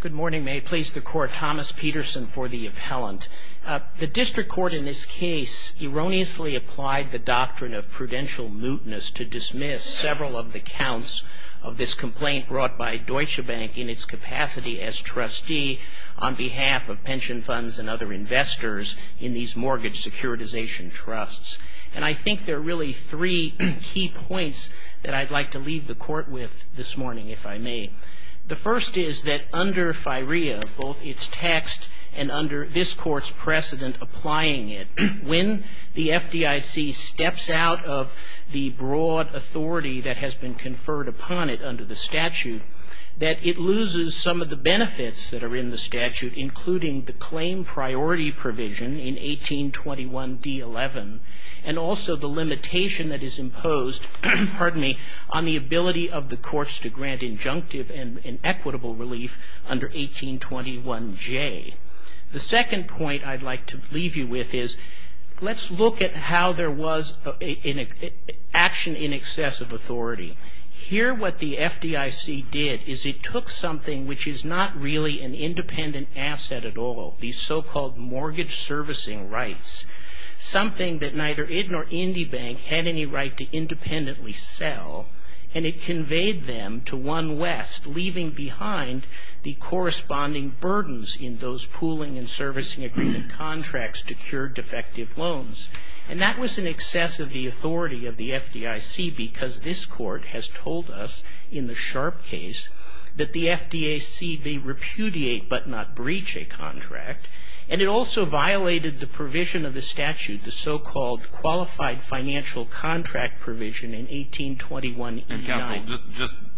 Good morning. May it please the Court, Thomas Peterson for the Appellant. The District Court in this case erroneously applied the doctrine of prudential mootness to dismiss several of the counts of this complaint brought by Deutsche Bank in its capacity as trustee on behalf of pension funds and other investors in these mortgage securitization trusts. And I think there are really three key points that I'd like to leave the Court with this morning, if I may. The first is that under FIREA, both its text and under this Court's precedent applying it, when the FDIC steps out of the broad authority that has been conferred upon it under the statute, that it loses some of the benefits that are in the statute, including the claim priority provision in 1821d11, and also the limitation that is imposed on the ability of the courts to grant injunctive and equitable relief under 1821j. The second point I'd like to leave you with is let's look at how there was action in excess of authority. Here what the FDIC did is it took something which is not really an independent asset at all, these so-called mortgage servicing rights, something that neither it nor Indy Bank had any right to independently sell, and it conveyed them to one west, leaving behind the corresponding burdens in those pooling and servicing agreement contracts to cure defective loans. And that was in excess of the authority of the FDIC because this Court has told us in the Sharpe case that the FDIC may repudiate but not breach a contract, and it also violated the provision of the statute, the so-called qualified financial contract provision in 1821e9. And counsel,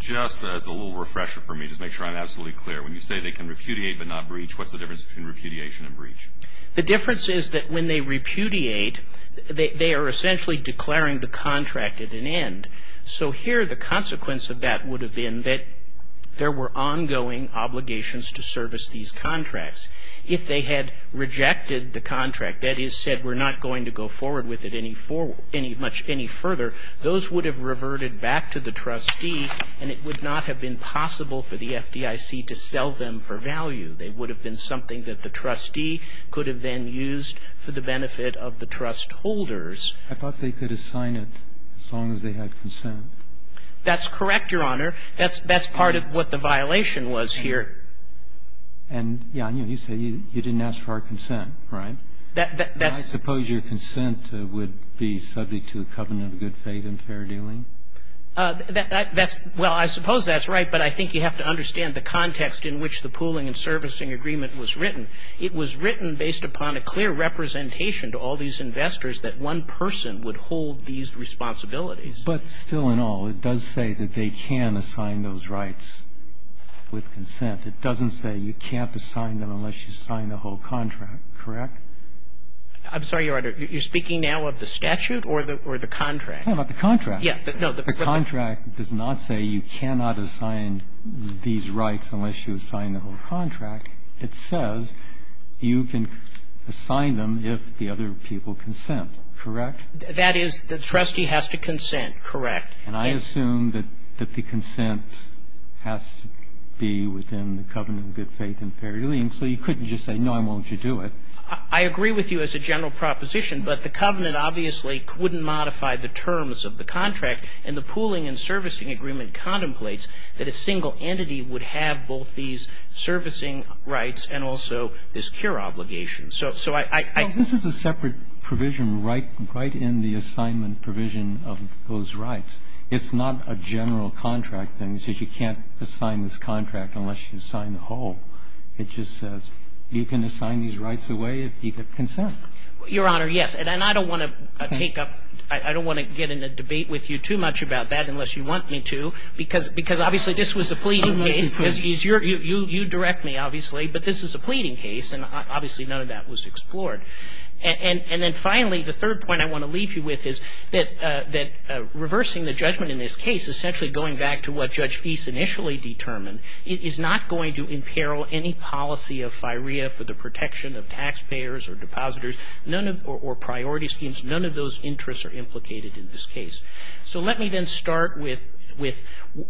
just as a little refresher for me, just to make sure I'm absolutely clear, when you say they can repudiate but not breach, what's the difference between repudiation and breach? The difference is that when they repudiate, they are essentially declaring the contract at an end. So here the consequence of that would have been that there were ongoing obligations to service these contracts. If they had rejected the contract, that is, said we're not going to go forward with it any much further, those would have reverted back to the trustee, and it would not have been possible for the FDIC to sell them for value. They would have been something that the trustee could have then used for the benefit of the trust holders. I thought they could assign it as long as they had consent. That's correct, Your Honor. That's part of what the violation was here. And, Jan, you say you didn't ask for our consent, right? That's the point. I suppose your consent would be subject to the covenant of good faith and fair dealing? That's – well, I suppose that's right, but I think you have to understand the context in which the pooling and servicing agreement was written. It was written based upon a clear representation to all these investors that one person would hold these responsibilities. But still in all, it does say that they can assign those rights with consent. It doesn't say you can't assign them unless you sign the whole contract, correct? I'm sorry, Your Honor. You're speaking now of the statute or the contract? No, not the contract. Yeah. No, the – The contract does not say you cannot assign these rights unless you assign the whole contract. It says you can assign them if the other people consent, correct? That is, the trustee has to consent, correct? And I assume that the consent has to be within the covenant of good faith and fair dealing. So you couldn't just say, no, I won't you do it. I agree with you as a general proposition, but the covenant obviously wouldn't modify the terms of the contract, and the pooling and servicing agreement contemplates that a single entity would have both these servicing rights and also this cure obligation. So I – This is a separate provision right in the assignment provision of those rights. It's not a general contract that says you can't assign this contract unless you sign the whole. It just says you can assign these rights away if you consent. Your Honor, yes. And I don't want to take up – I don't want to get in a debate with you too much about that unless you want me to, because obviously this was a pleading case. You direct me, obviously, but this is a pleading case, and obviously none of that was explored. And then finally, the third point I want to leave you with is that reversing the judgment in this case, essentially going back to what Judge Fease initially determined, is not going to imperil any policy of firea for the protection of taxpayers or depositors, none of – or priority schemes. None of those interests are implicated in this case. So let me then start with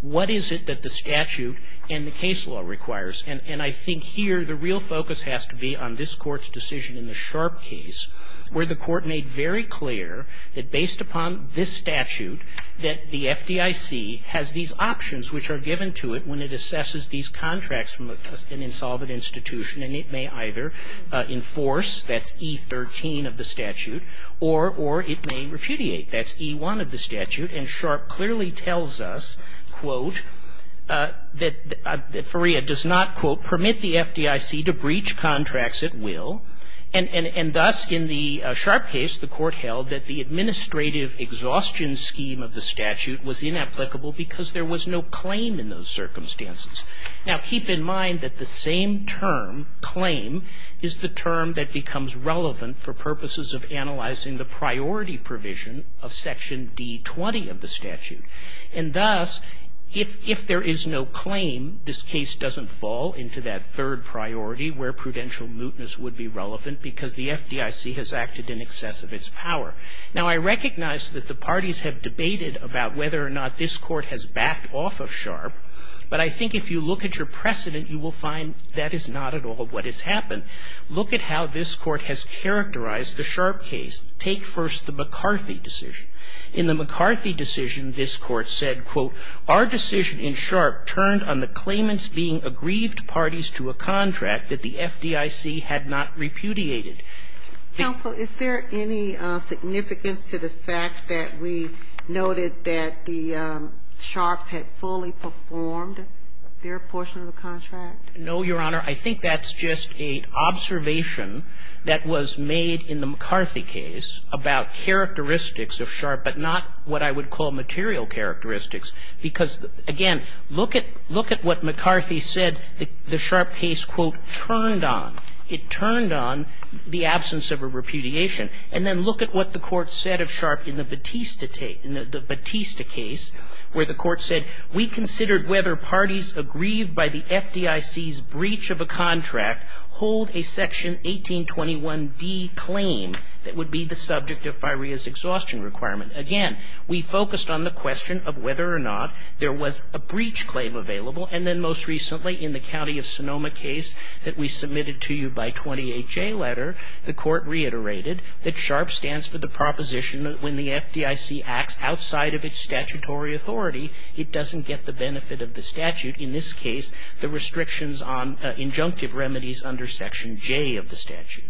what is it that the statute and the case law requires. And I think here the real focus has to be on this Court's decision in the Sharp case, where the Court made very clear that based upon this statute, that the FDIC has these options which are given to it when it assesses these contracts from an insolvent institution, and it may either enforce, that's E13 of the statute, or it may repudiate, that's E1 of the statute. And Sharp clearly tells us, quote, that firea does not, quote, permit the FDIC to breach contracts at will. And thus, in the Sharp case, the Court held that the administrative exhaustion scheme of the statute was inapplicable because there was no claim in those circumstances. Now, keep in mind that the same term, claim, is the term that becomes relevant for purposes of analyzing the priority provision of Section D20 of the statute. And thus, if there is no claim, this case doesn't fall into that third priority where prudential mootness would be relevant because the FDIC has acted in excess of its power. Now, I recognize that the parties have debated about whether or not this Court has backed off of Sharp, but I think if you look at your precedent, you will find that is not at all what has happened. Look at how this Court has characterized the Sharp case. Take first the McCarthy decision. In the McCarthy decision, this Court said, quote, Our decision in Sharp turned on the claimants being aggrieved parties to a contract that the FDIC had not repudiated. The Counsel, is there any significance to the fact that we noted that the Sharps had fully performed their portion of the contract? No, Your Honor. I think that's just an observation that was made in the McCarthy case about characteristics of Sharp, but not what I would call material characteristics, because, again, look at what McCarthy said the Sharp case, quote, turned on. It turned on the absence of a repudiation. And then look at what the Court said of Sharp in the Batista case, where the Court said, We considered whether parties aggrieved by the FDIC's breach of a contract hold a section 1821d claim that would be the subject of FIREA's exhaustion requirement. Again, we focused on the question of whether or not there was a breach claim available. And then most recently, in the County of Sonoma case that we submitted to you by 28J letter, the Court reiterated that Sharp stands for the proposition that when the FDIC acts outside of its statutory authority, it doesn't get the benefit of the statute, in this case, the restrictions on injunctive remedies under Section J of the statute.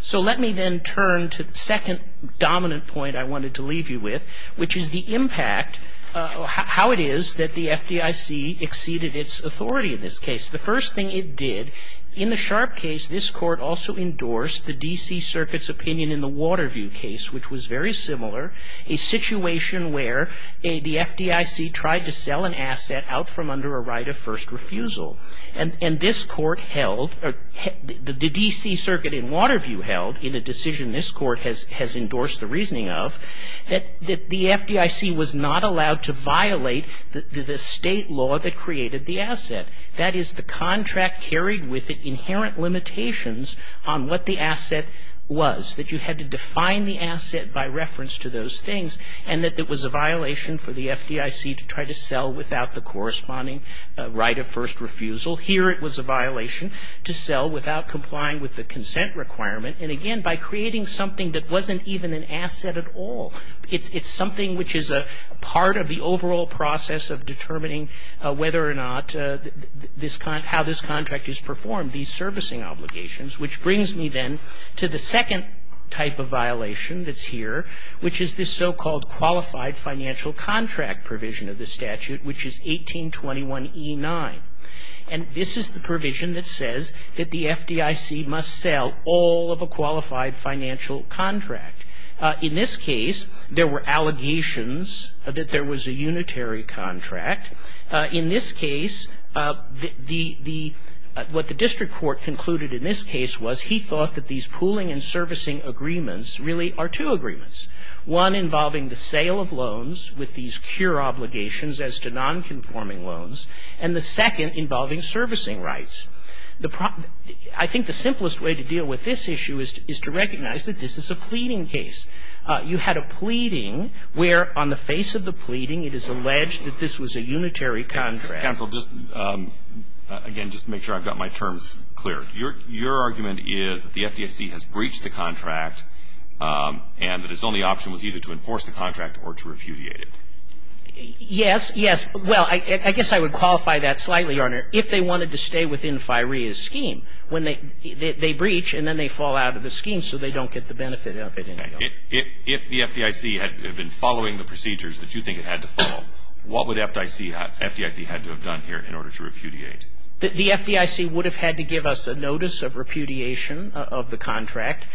So let me then turn to the second dominant point I wanted to leave you with, which is the impact, how it is that the FDIC exceeded its authority in this case. The first thing it did, in the Sharp case, this Court also endorsed the D.C. situation where the FDIC tried to sell an asset out from under a right of first refusal. And this Court held, or the D.C. Circuit in Waterview held, in a decision this Court has endorsed the reasoning of, that the FDIC was not allowed to violate the state law that created the asset. That is, the contract carried with it inherent limitations on what the asset was, that you had to define the asset by reference to those things, and that it was a violation for the FDIC to try to sell without the corresponding right of first refusal. Here, it was a violation to sell without complying with the consent requirement. And again, by creating something that wasn't even an asset at all, it's something which is a part of the overall process of determining whether or not this, how this contract is performed, these servicing obligations. Which brings me, then, to the second type of violation that's here, which is this so-called qualified financial contract provision of the statute, which is 1821E9. And this is the provision that says that the FDIC must sell all of a qualified financial contract. In this case, there were allegations that there was a unitary contract. In this case, what the district court concluded in this case was he thought that these pooling and servicing agreements really are two agreements. One involving the sale of loans with these cure obligations as to non-conforming loans, and the second involving servicing rights. I think the simplest way to deal with this issue is to recognize that this is a pleading case. You had a pleading where, on the face of the pleading, it is alleged that this was a unitary contract. Counsel, just, again, just to make sure I've got my terms clear. Your argument is that the FDIC has breached the contract, and that its only option was either to enforce the contract or to repudiate it. Yes, yes. Well, I guess I would qualify that slightly, Your Honor, if they wanted to stay within FIREA's scheme. When they breach, and then they fall out of the scheme, so they don't get the benefit of it anymore. If the FDIC had been following the procedures that you think it had to follow, what would FDIC, FDIC had to have done here in order to repudiate? The FDIC would have had to give us a notice of repudiation of the contract,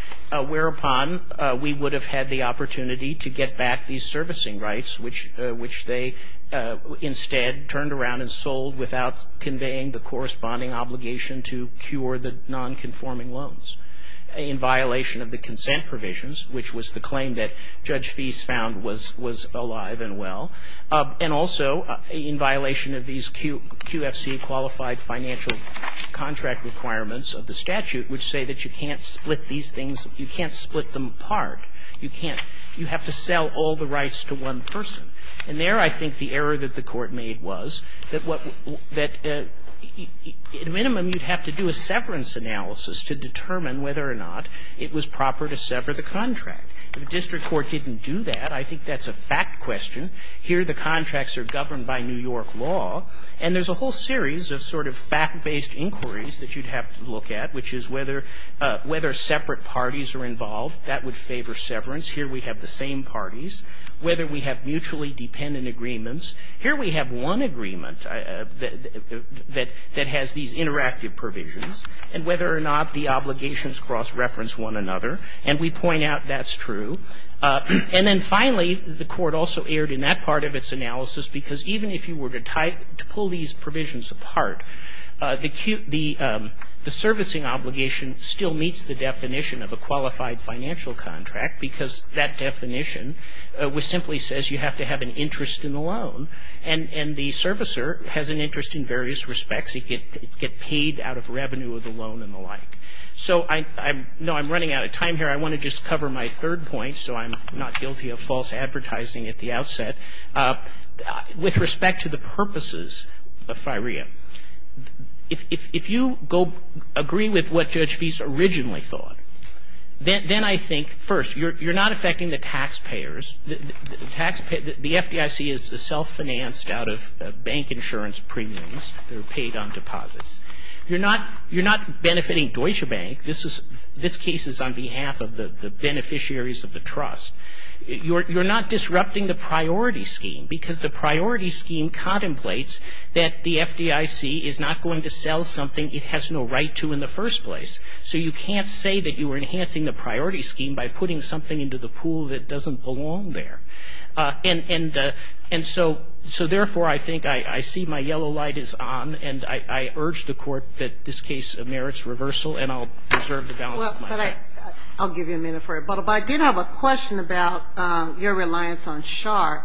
whereupon we would have had the opportunity to get back these servicing rights, which they instead turned around and sold without conveying the corresponding obligation to cure the non-conforming loans in violation of the consent provisions, which was the claim that Judge Feist found was alive and well. And also, in violation of these QFCA qualified financial contract requirements of the statute, which say that you can't split these things, you can't split them apart, you can't, you have to sell all the rights to one person. And there, I think, the error that the Court made was that what, that at a minimum, you'd have to do a severance analysis to determine whether or not it was proper to sever the contract. The district court didn't do that. I think that's a fact question. Here, the contracts are governed by New York law, and there's a whole series of sort of fact-based inquiries that you'd have to look at, which is whether, whether separate parties are involved. That would favor severance. Here, we have the same parties. Whether we have mutually dependent agreements. Here, we have one agreement that, that has these interactive provisions. And whether or not the obligations cross-reference one another. And we point out that's true. And then finally, the Court also erred in that part of its analysis, because even if you were to tie, to pull these provisions apart, the servicing obligation still meets the definition of a qualified financial contract, because that definition simply says you have to have an interest in the loan. And the servicer has an interest in various respects. It gets paid out of revenue of the loan and the like. So I'm, no, I'm running out of time here. I want to just cover my third point, so I'm not guilty of false advertising at the outset. With respect to the purposes of FIREA, if, if, if you go, agree with what Judge Feist originally thought, then, then I think, first, you're, you're not affecting the taxpayers. The, the taxpayer, the FDIC is self-financed out of bank insurance premiums. They're paid on deposits. You're not, you're not benefiting Deutsche Bank. This is, this case is on behalf of the, the beneficiaries of the trust. You're, you're not disrupting the priority scheme, because the priority scheme contemplates that the FDIC is not going to sell something it has no right to in the first place. So you can't say that you were enhancing the priority scheme by putting something into the pool that doesn't belong there. And, and, and so, so therefore, I think, I, I see my yellow light is on, and I, I urge the Court that this case merits reversal, and I'll reserve the balance of my time. But I, I'll give you a minute for it, but if I did have a question about your reliance on Sharpe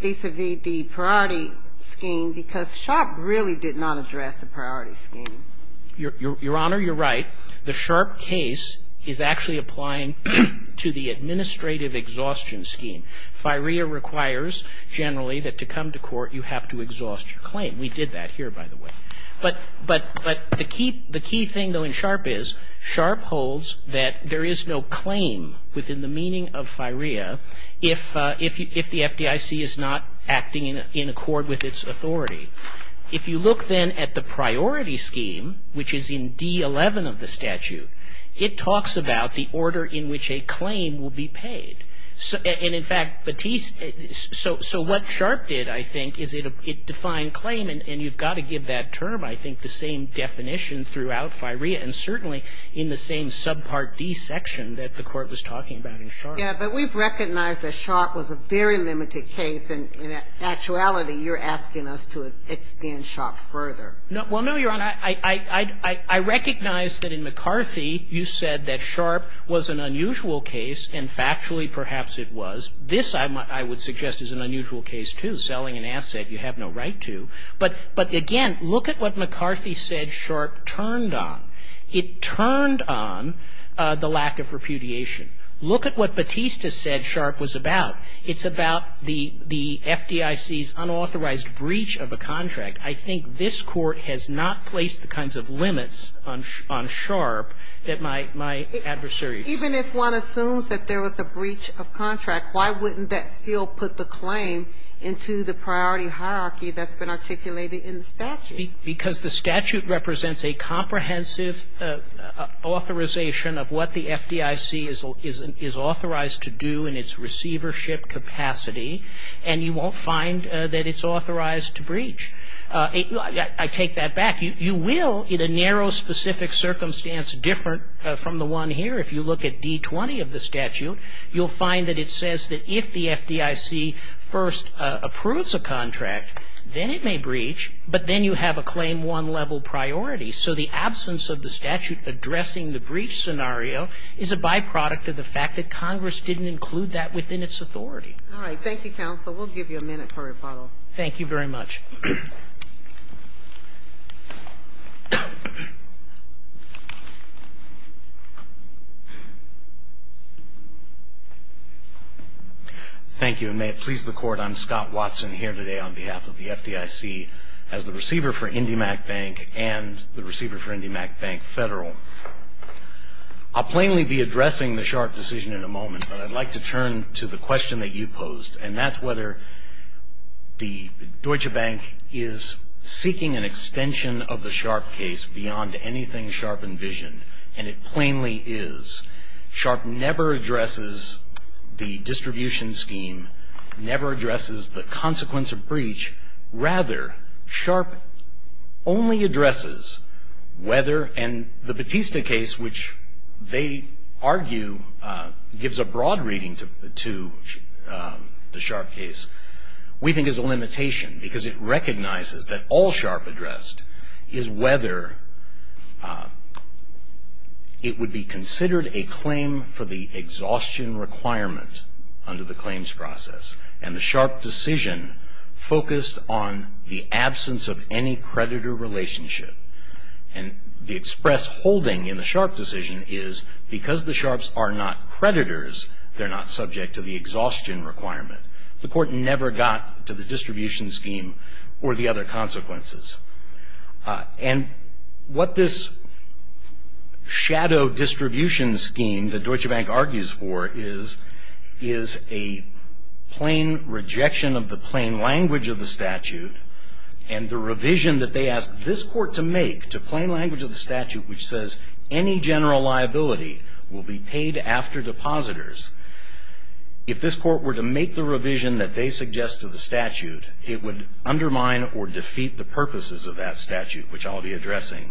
vis-à-vis the priority scheme, because Sharpe really did not address the priority scheme. Your, Your Honor, you're right. The Sharpe case is actually applying to the administrative exhaustion scheme. FIREA requires generally that to come to court, you have to exhaust your claim. We did that here, by the way. But, but, but the key, the key thing, though, in Sharpe is, Sharpe holds that there is no claim within the meaning of FIREA if, if, if the FDIC is not acting in, in accord with its authority. If you look, then, at the priority scheme, which is in D11 of the statute, it talks about the order in which a claim will be paid. So, and in fact, Batiste, so, so what Sharpe did, I think, is it, it defined claim, and you've got to give that term, I think, the same definition throughout FIREA, and certainly in the same subpart D section that the Court was talking about in Sharpe. Yeah, but we've recognized that Sharpe was a very limited case, and in actuality, you're asking us to extend Sharpe further. No, well, no, Your Honor. I, I, I, I, I recognize that in McCarthy, you said that Sharpe was an unusual case, and factually, perhaps it was. This, I, I would suggest, is an unusual case, too. If you're selling an asset, you have no right to, but, but, again, look at what McCarthy said Sharpe turned on. It turned on the lack of repudiation. Look at what Batiste said Sharpe was about. It's about the, the FDIC's unauthorized breach of a contract. I think this Court has not placed the kinds of limits on, on Sharpe that my, my adversary Even if one assumes that there was a breach of contract, why wouldn't that still put the claim into the priority hierarchy that's been articulated in the statute? Because the statute represents a comprehensive authorization of what the FDIC is, is, is authorized to do in its receivership capacity, and you won't find that it's authorized to breach. I, I, I take that back. You, you will, in a narrow specific circumstance different from the one here, if you look at D-20 of the statute, you'll find that it says that if the FDIC first approves a contract, then it may breach, but then you have a claim one level priority. So the absence of the statute addressing the breach scenario is a byproduct of the fact that Congress didn't include that within its authority. All right. Thank you, counsel. We'll give you a minute for rebuttal. Thank you very much. Thank you, and may it please the Court, I'm Scott Watson here today on behalf of the FDIC as the receiver for IndyMac Bank and the receiver for IndyMac Bank Federal. I'll plainly be addressing the Sharpe decision in a moment, but I'd like to turn to the question that you posed, and that's whether the Deutsche Bank is seeking an extension of the Sharpe case beyond anything Sharpe envisioned, and it plainly is. Sharpe never addresses the distribution scheme, never addresses the consequence of breach, rather Sharpe only addresses whether, and the Batista case, which they argue gives a broad reading to the Sharpe case, we think is a limitation, because it recognizes that all Sharpe addressed is whether it would be considered a claim for the exhaustion requirement under the claims process, and the Sharpe decision focused on the absence of any creditor relationship, and the express holding in the Sharpe decision is because the Sharpes are not creditors, they're not subject to the exhaustion requirement. The Court never got to the distribution scheme or the other consequences, and what this shadow distribution scheme that Deutsche Bank argues for is a plain rejection of the plain language of the statute, and the revision that they asked this Court to make to plain language of the statute, which says any general liability will be paid after depositors. If this Court were to make the revision that they suggest to the statute, it would undermine or defeat the purposes of that statute, which I'll be addressing,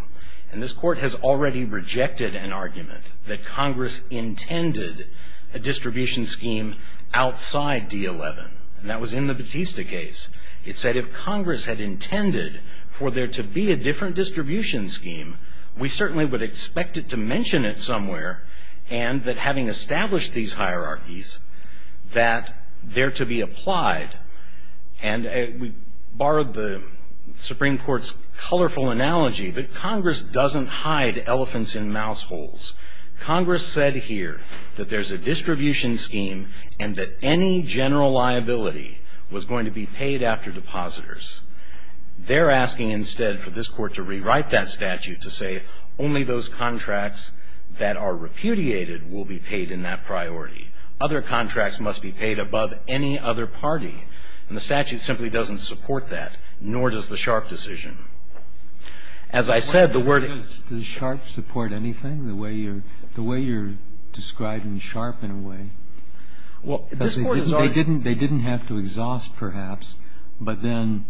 and this Court has already rejected an argument that Congress intended a distribution scheme outside D11, and that was in the Batista case. It said if Congress had intended for there to be a different distribution scheme, we certainly would expect it to mention it somewhere, and that having established these hierarchies, that there to be applied, and we borrowed the Supreme Court's colorful analogy, that Congress doesn't hide elephants in mouse holes. Congress said here that there's a distribution scheme, and that any general liability was going to be paid after depositors. They're asking instead for this Court to rewrite that statute to say only those contracts that are repudiated will be paid in that priority. Other contracts must be paid above any other party, and the statute simply doesn't support that, nor does the Sharpe decision. As I said, the wording is the Sharpe support anything, the way you're describing Sharpe in a way? Well, this Court has already... They didn't have to exhaust, perhaps, but then,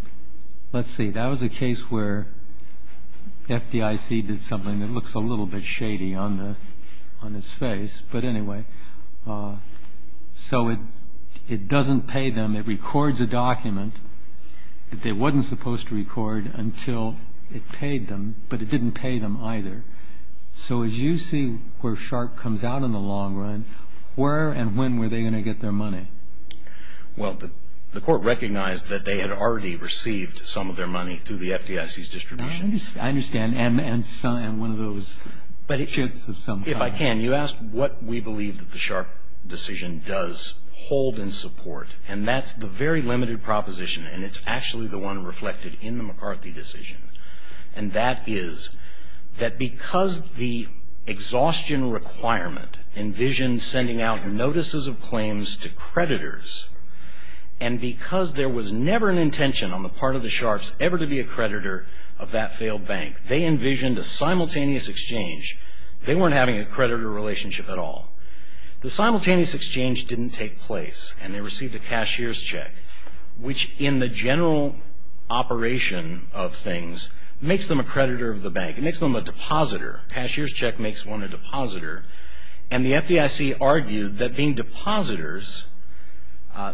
let's see, that was a case where FDIC did something that looks a little bit shady on its face, but anyway, so it doesn't pay them. It records a document that they wasn't supposed to record until it paid them, but it didn't pay them either. So as you see where Sharpe comes out in the long run, where and when were they going to get their money? Well, the Court recognized that they had already received some of their money through the FDIC's distribution. I understand, and one of those shits of some kind. If I can, you asked what we believe that the Sharpe decision does hold in support, and that's the very limited proposition, and it's actually the one reflected in the McCarthy decision, and that is that because the exhaustion requirement envisions sending out notices of claims to creditors, and because there was never an intention on the part of the Sharpes ever to be a creditor of that failed bank, they envisioned a simultaneous exchange. They weren't having a creditor relationship at all. The simultaneous exchange didn't take place, and they received a cashier's check, which in the general operation of things makes them a creditor of the bank. It makes them a depositor. Cashier's check makes one a depositor, and the FDIC argued that being depositors,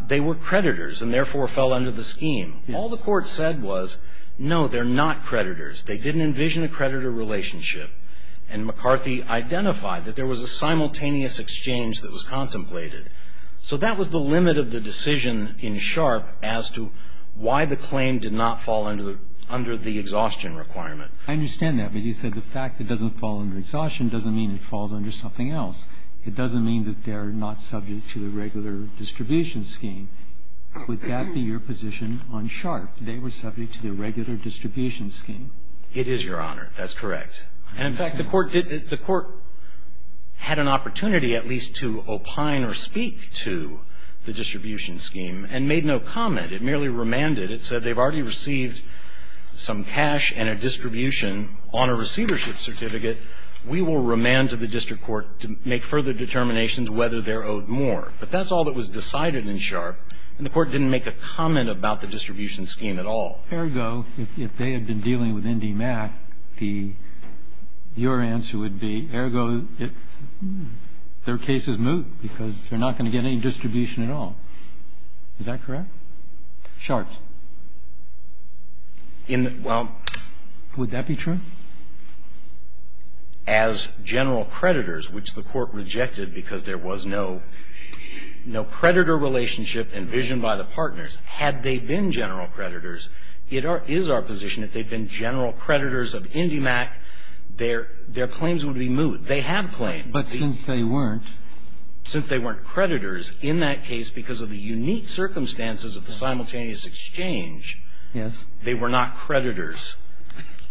they were creditors and therefore fell under the scheme. All the Court said was, no, they're not creditors. They didn't envision a creditor relationship, and McCarthy identified that there was a simultaneous exchange that was contemplated. So that was the limit of the decision in Sharpe as to why the claim did not fall under the exhaustion requirement. I understand that, but you said the fact it doesn't fall under exhaustion doesn't mean it falls under something else. It doesn't mean that they're not subject to the regular distribution scheme. Would that be your position on Sharpe? They were subject to the regular distribution scheme. It is, Your Honor. That's correct. And, in fact, the Court did the Court had an opportunity at least to opine or speak to the distribution scheme and made no comment. It merely remanded. It said they've already received some cash and a distribution on a receivership certificate. We will remand to the district court to make further determinations whether they're owed more. But that's all that was decided in Sharpe, and the Court didn't make a comment about the distribution scheme at all. Ergo, if they had been dealing with NDMAT, the your answer would be, ergo, it their case is moot because they're not going to get any distribution at all. Is that correct? Sharpe? In the well, would that be true? As general creditors, which the Court rejected because there was no no creditor relationship envisioned by the partners, had they been general creditors, it is our position if they'd been general creditors of NDMAT, their claims would be moot. They have claims. But since they weren't. Since they weren't creditors, in that case, because of the unique circumstances of the simultaneous exchange, they were not creditors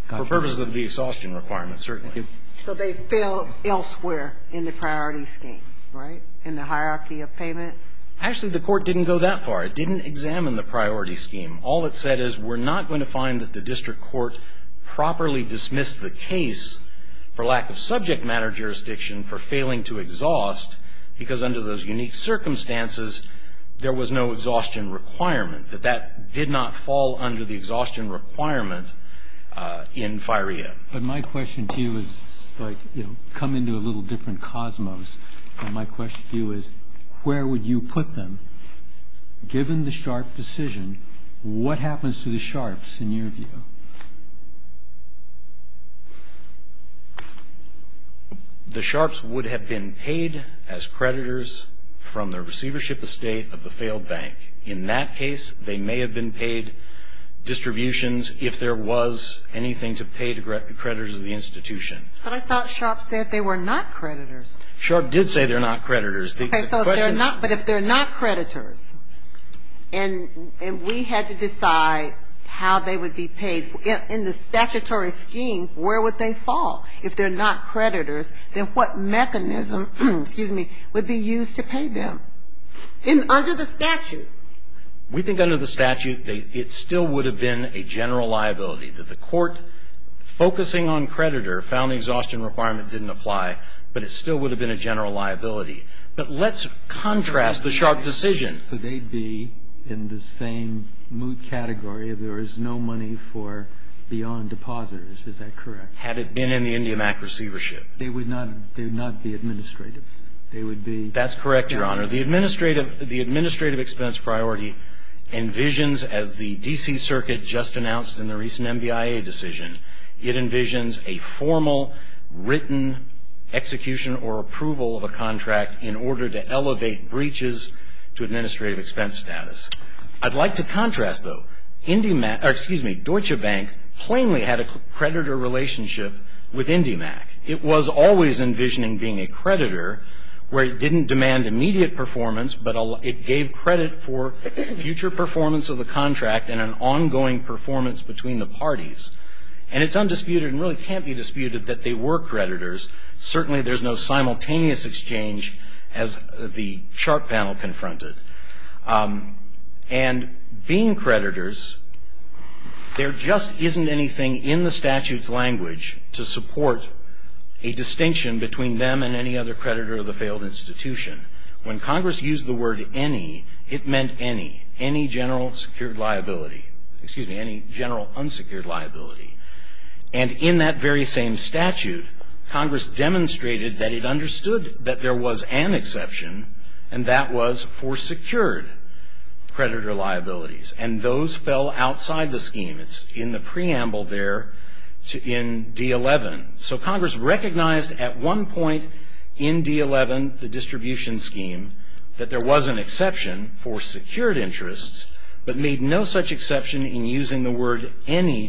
for purposes of the exhaustion requirements, certainly. So they fell elsewhere in the priority scheme, right, in the hierarchy of payment? Actually, the Court didn't go that far. It didn't examine the priority scheme. All it said is, we're not going to find that the district court properly dismissed the case for lack of subject matter jurisdiction for failing to exhaust because under those unique circumstances, there was no exhaustion requirement, that that did not fall under the exhaustion requirement in FIREA. But my question to you is, like, you know, come into a little different cosmos. And my question to you is, where would you put them, given the Sharpe decision, what happens to the Sharpes, in your view? The Sharpes would have been paid as creditors from the receivership estate of the failed bank. In that case, they may have been paid distributions if there was anything to pay to creditors of the institution. But I thought Sharpe said they were not creditors. Sharpe did say they're not creditors. But if they're not creditors, and we had to decide how they would be paid, in the statutory scheme, where would they fall? If they're not creditors, then what mechanism, excuse me, would be used to pay them? And under the statute? We think under the statute, it still would have been a general liability. That the Court, focusing on creditor, found the exhaustion requirement didn't apply, but it still would have been a general liability. But let's contrast the Sharpe decision. So they'd be in the same moot category if there was no money for beyond depositors. Is that correct? Had it been in the Indiamac receivership. They would not be administrative. They would be. That's correct, Your Honor. The administrative expense priority envisions, as the D.C. Circuit just announced in the recent MBIA decision, it envisions a formal written execution or approval of a contract in order to elevate breaches to administrative expense status. I'd like to contrast, though. Indiamac, or excuse me, Deutsche Bank, plainly had a creditor relationship with Indiamac. It was always envisioning being a creditor, where it didn't demand immediate performance, but it gave credit for future performance of the contract and an ongoing performance between the parties. And it's undisputed, and really can't be disputed, that they were creditors. Certainly, there's no simultaneous exchange, as the chart panel confronted. And being creditors, there just isn't anything in the statute's language to support a distinction between them and any other creditor of the failed institution. When Congress used the word any, it meant any. Any general secured liability. Excuse me, any general unsecured liability. And in that very same statute, Congress demonstrated that it understood that there was an exception, and that was for secured creditor liabilities. And those fell outside the scheme. It's in the preamble there in D11. So Congress recognized at one point in D11, the distribution scheme, that there was an exception for secured interests, but made no such exception in using the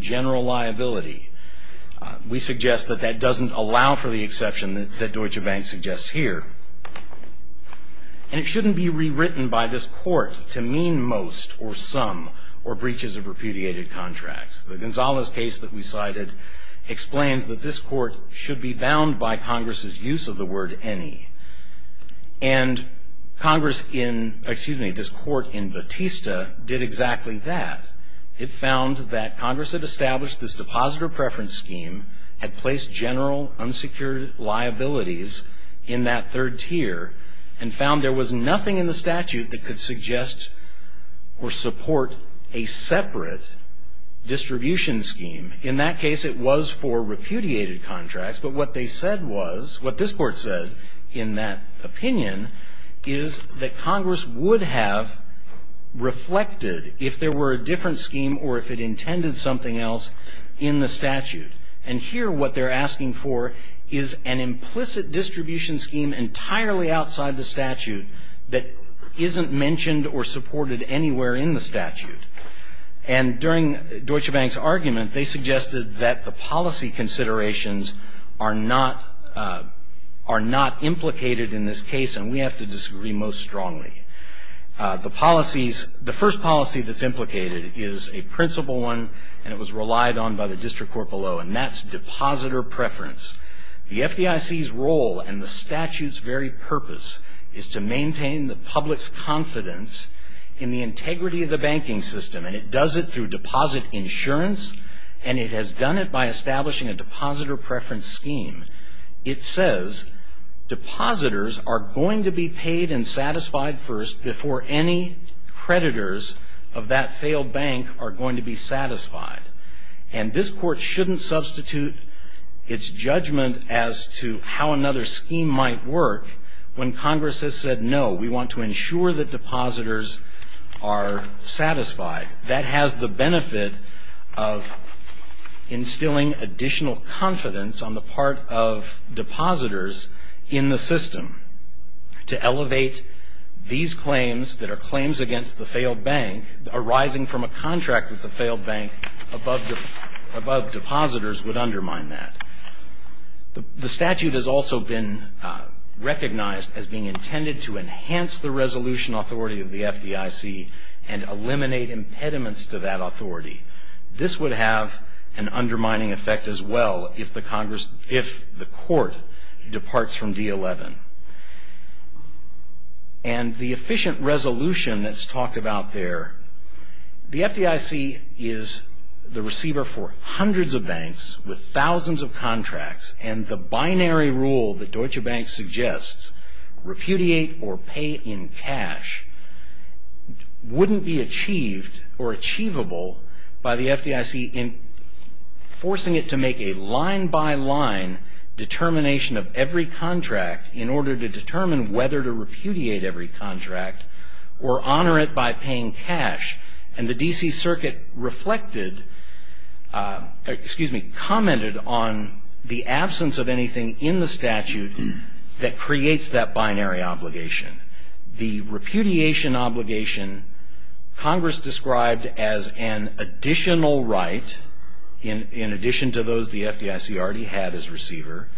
term liability. We suggest that that doesn't allow for the exception that Deutsche Bank suggests here. And it shouldn't be rewritten by this court to mean most or some or breaches of repudiated contracts. The Gonzales case that we cited explains that this court should be bound by Congress's use of the word any. And Congress in, excuse me, this court in Batista did exactly that. It found that Congress had established this depositor preference scheme, had placed general unsecured liabilities in that third tier, and found there was nothing in the statute that could suggest or support a separate distribution scheme. In that case, it was for repudiated contracts. But what they said was, what this court said in that opinion, is that Congress would have reflected if there were a different scheme or if it intended something else in the statute. And here, what they're asking for is an implicit distribution scheme entirely outside the statute that isn't mentioned or supported anywhere in the statute. And during Deutsche Bank's argument, they suggested that the policy considerations are not, are not implicated in this case. And we have to disagree most strongly. The policies, the first policy that's implicated is a principle one, and it was relied on by the district court below. And that's depositor preference. The FDIC's role and the statute's very purpose is to maintain the public's confidence in the integrity of the banking system. And it does it through deposit insurance. And it has done it by establishing a depositor preference scheme. It says, depositors are going to be paid and satisfied first before any creditors of that failed bank are going to be satisfied. And this court shouldn't substitute its judgment as to how another scheme might work when Congress has said, no, we want to ensure that depositors are satisfied. That has the benefit of instilling additional confidence on the part of depositors in the system. To elevate these claims that are claims against the failed bank, arising from a contract with the failed bank above depositors would undermine that. The statute has also been recognized as being intended to enhance the resolution authority of the FDIC and eliminate impediments to that authority. This would have an undermining effect as well if the court departs from D11. And the efficient resolution that's talked about there, the FDIC is the receiver for hundreds of banks with thousands of contracts. And the binary rule that Deutsche Bank suggests, repudiate or achievable by the FDIC in forcing it to make a line by line determination of every contract in order to determine whether to repudiate every contract. Or honor it by paying cash. And the DC circuit reflected, excuse me, commented on the absence of anything in the statute that creates that binary obligation. The repudiation obligation, Congress described as an additional right, in addition to those the FDIC already had as receiver.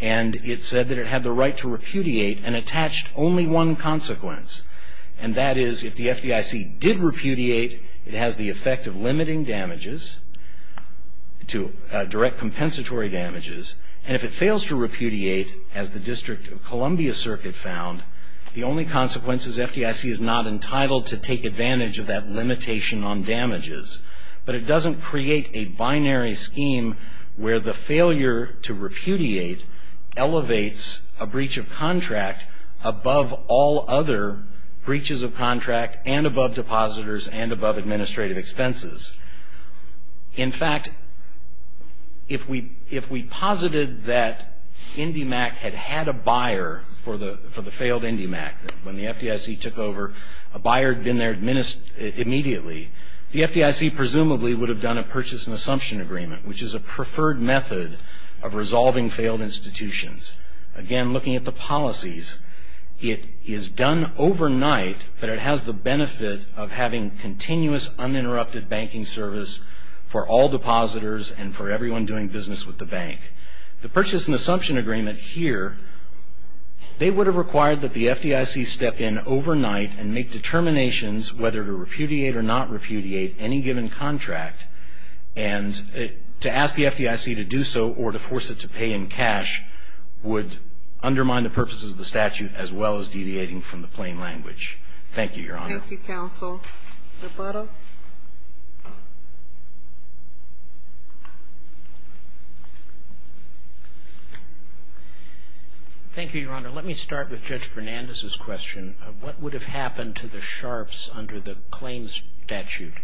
And it said that it had the right to repudiate and attached only one consequence. And that is, if the FDIC did repudiate, it has the effect of limiting damages, to direct compensatory damages. And if it fails to repudiate, as the District of Columbia Circuit found, the only consequence is FDIC is not entitled to take advantage of that limitation on damages. But it doesn't create a binary scheme where the failure to repudiate elevates a breach of contract above all other breaches of contract and above depositors and above administrative expenses. In fact, if we posited that IndyMac had had a buyer for the failed IndyMac, when the FDIC took over, a buyer had been there immediately. The FDIC presumably would have done a purchase and assumption agreement, which is a preferred method of resolving failed institutions. Again, looking at the policies, it is done overnight, but it has the benefit of having continuous uninterrupted banking service for all depositors and for everyone doing business with the bank. The purchase and assumption agreement here, they would have required that the FDIC step in overnight and make determinations whether to repudiate or not repudiate any given contract. And to ask the FDIC to do so or to force it to pay in cash would undermine the purposes of the statute as well as deviating from the plain language. Thank you, Your Honor. Thank you, Counsel. Mr. Buttock. Thank you, Your Honor. Let me start with Judge Fernandez's question. What would have happened to the Sharps under the claims statute?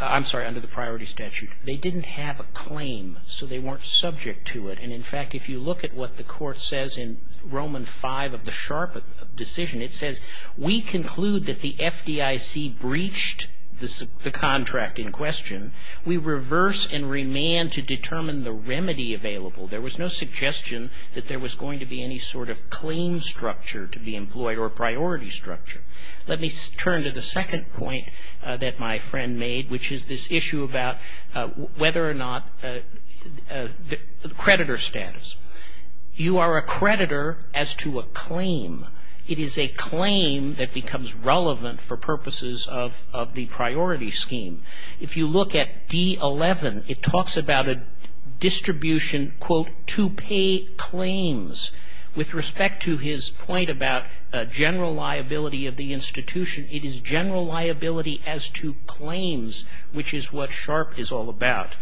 I'm sorry, under the priority statute. They didn't have a claim, so they weren't subject to it. And, in fact, if you look at what the Court says in Roman V of the Sharp decision, it says, we conclude that the FDIC breached the contract in question. We reverse and remand to determine the remedy available. There was no suggestion that there was going to be any sort of claim structure to be employed or priority structure. Let me turn to the second point that my friend made, which is this issue about whether or not the creditor status. You are a creditor as to a claim. It is a claim that becomes relevant for purposes of the priority scheme. If you look at D11, it talks about a distribution, quote, to pay claims. With respect to his point about general liability of the institution, it is general liability as to claims, which is what Sharp is all about.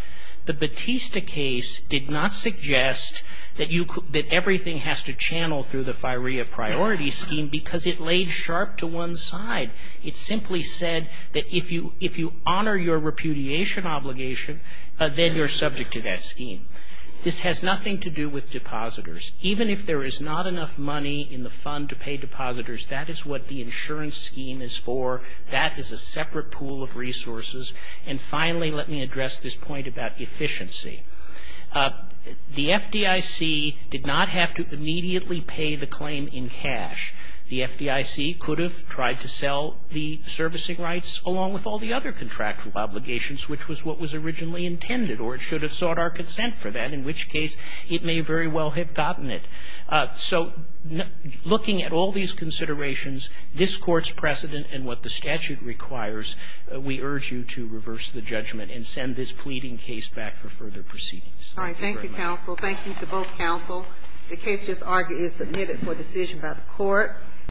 The Batista case did not suggest that you could, that everything has to channel through the FIREA priority scheme because it laid Sharp to one side. It simply said that if you honor your repudiation obligation, then you're subject to that scheme. This has nothing to do with depositors. Even if there is not enough money in the fund to pay depositors, that is what the insurance scheme is for. That is a separate pool of resources. And finally, let me address this point about efficiency. The FDIC did not have to immediately pay the claim in cash. The FDIC could have tried to sell the servicing rights along with all the other contractual obligations, which was what was originally intended, or it should have sought our consent for that, in which case it may very well have gotten it. So looking at all these considerations, this Court's precedent and send this pleading case back for further proceedings. Thank you very much. Thank you, counsel. Thank you to both counsel. The case is submitted for decision by the Court.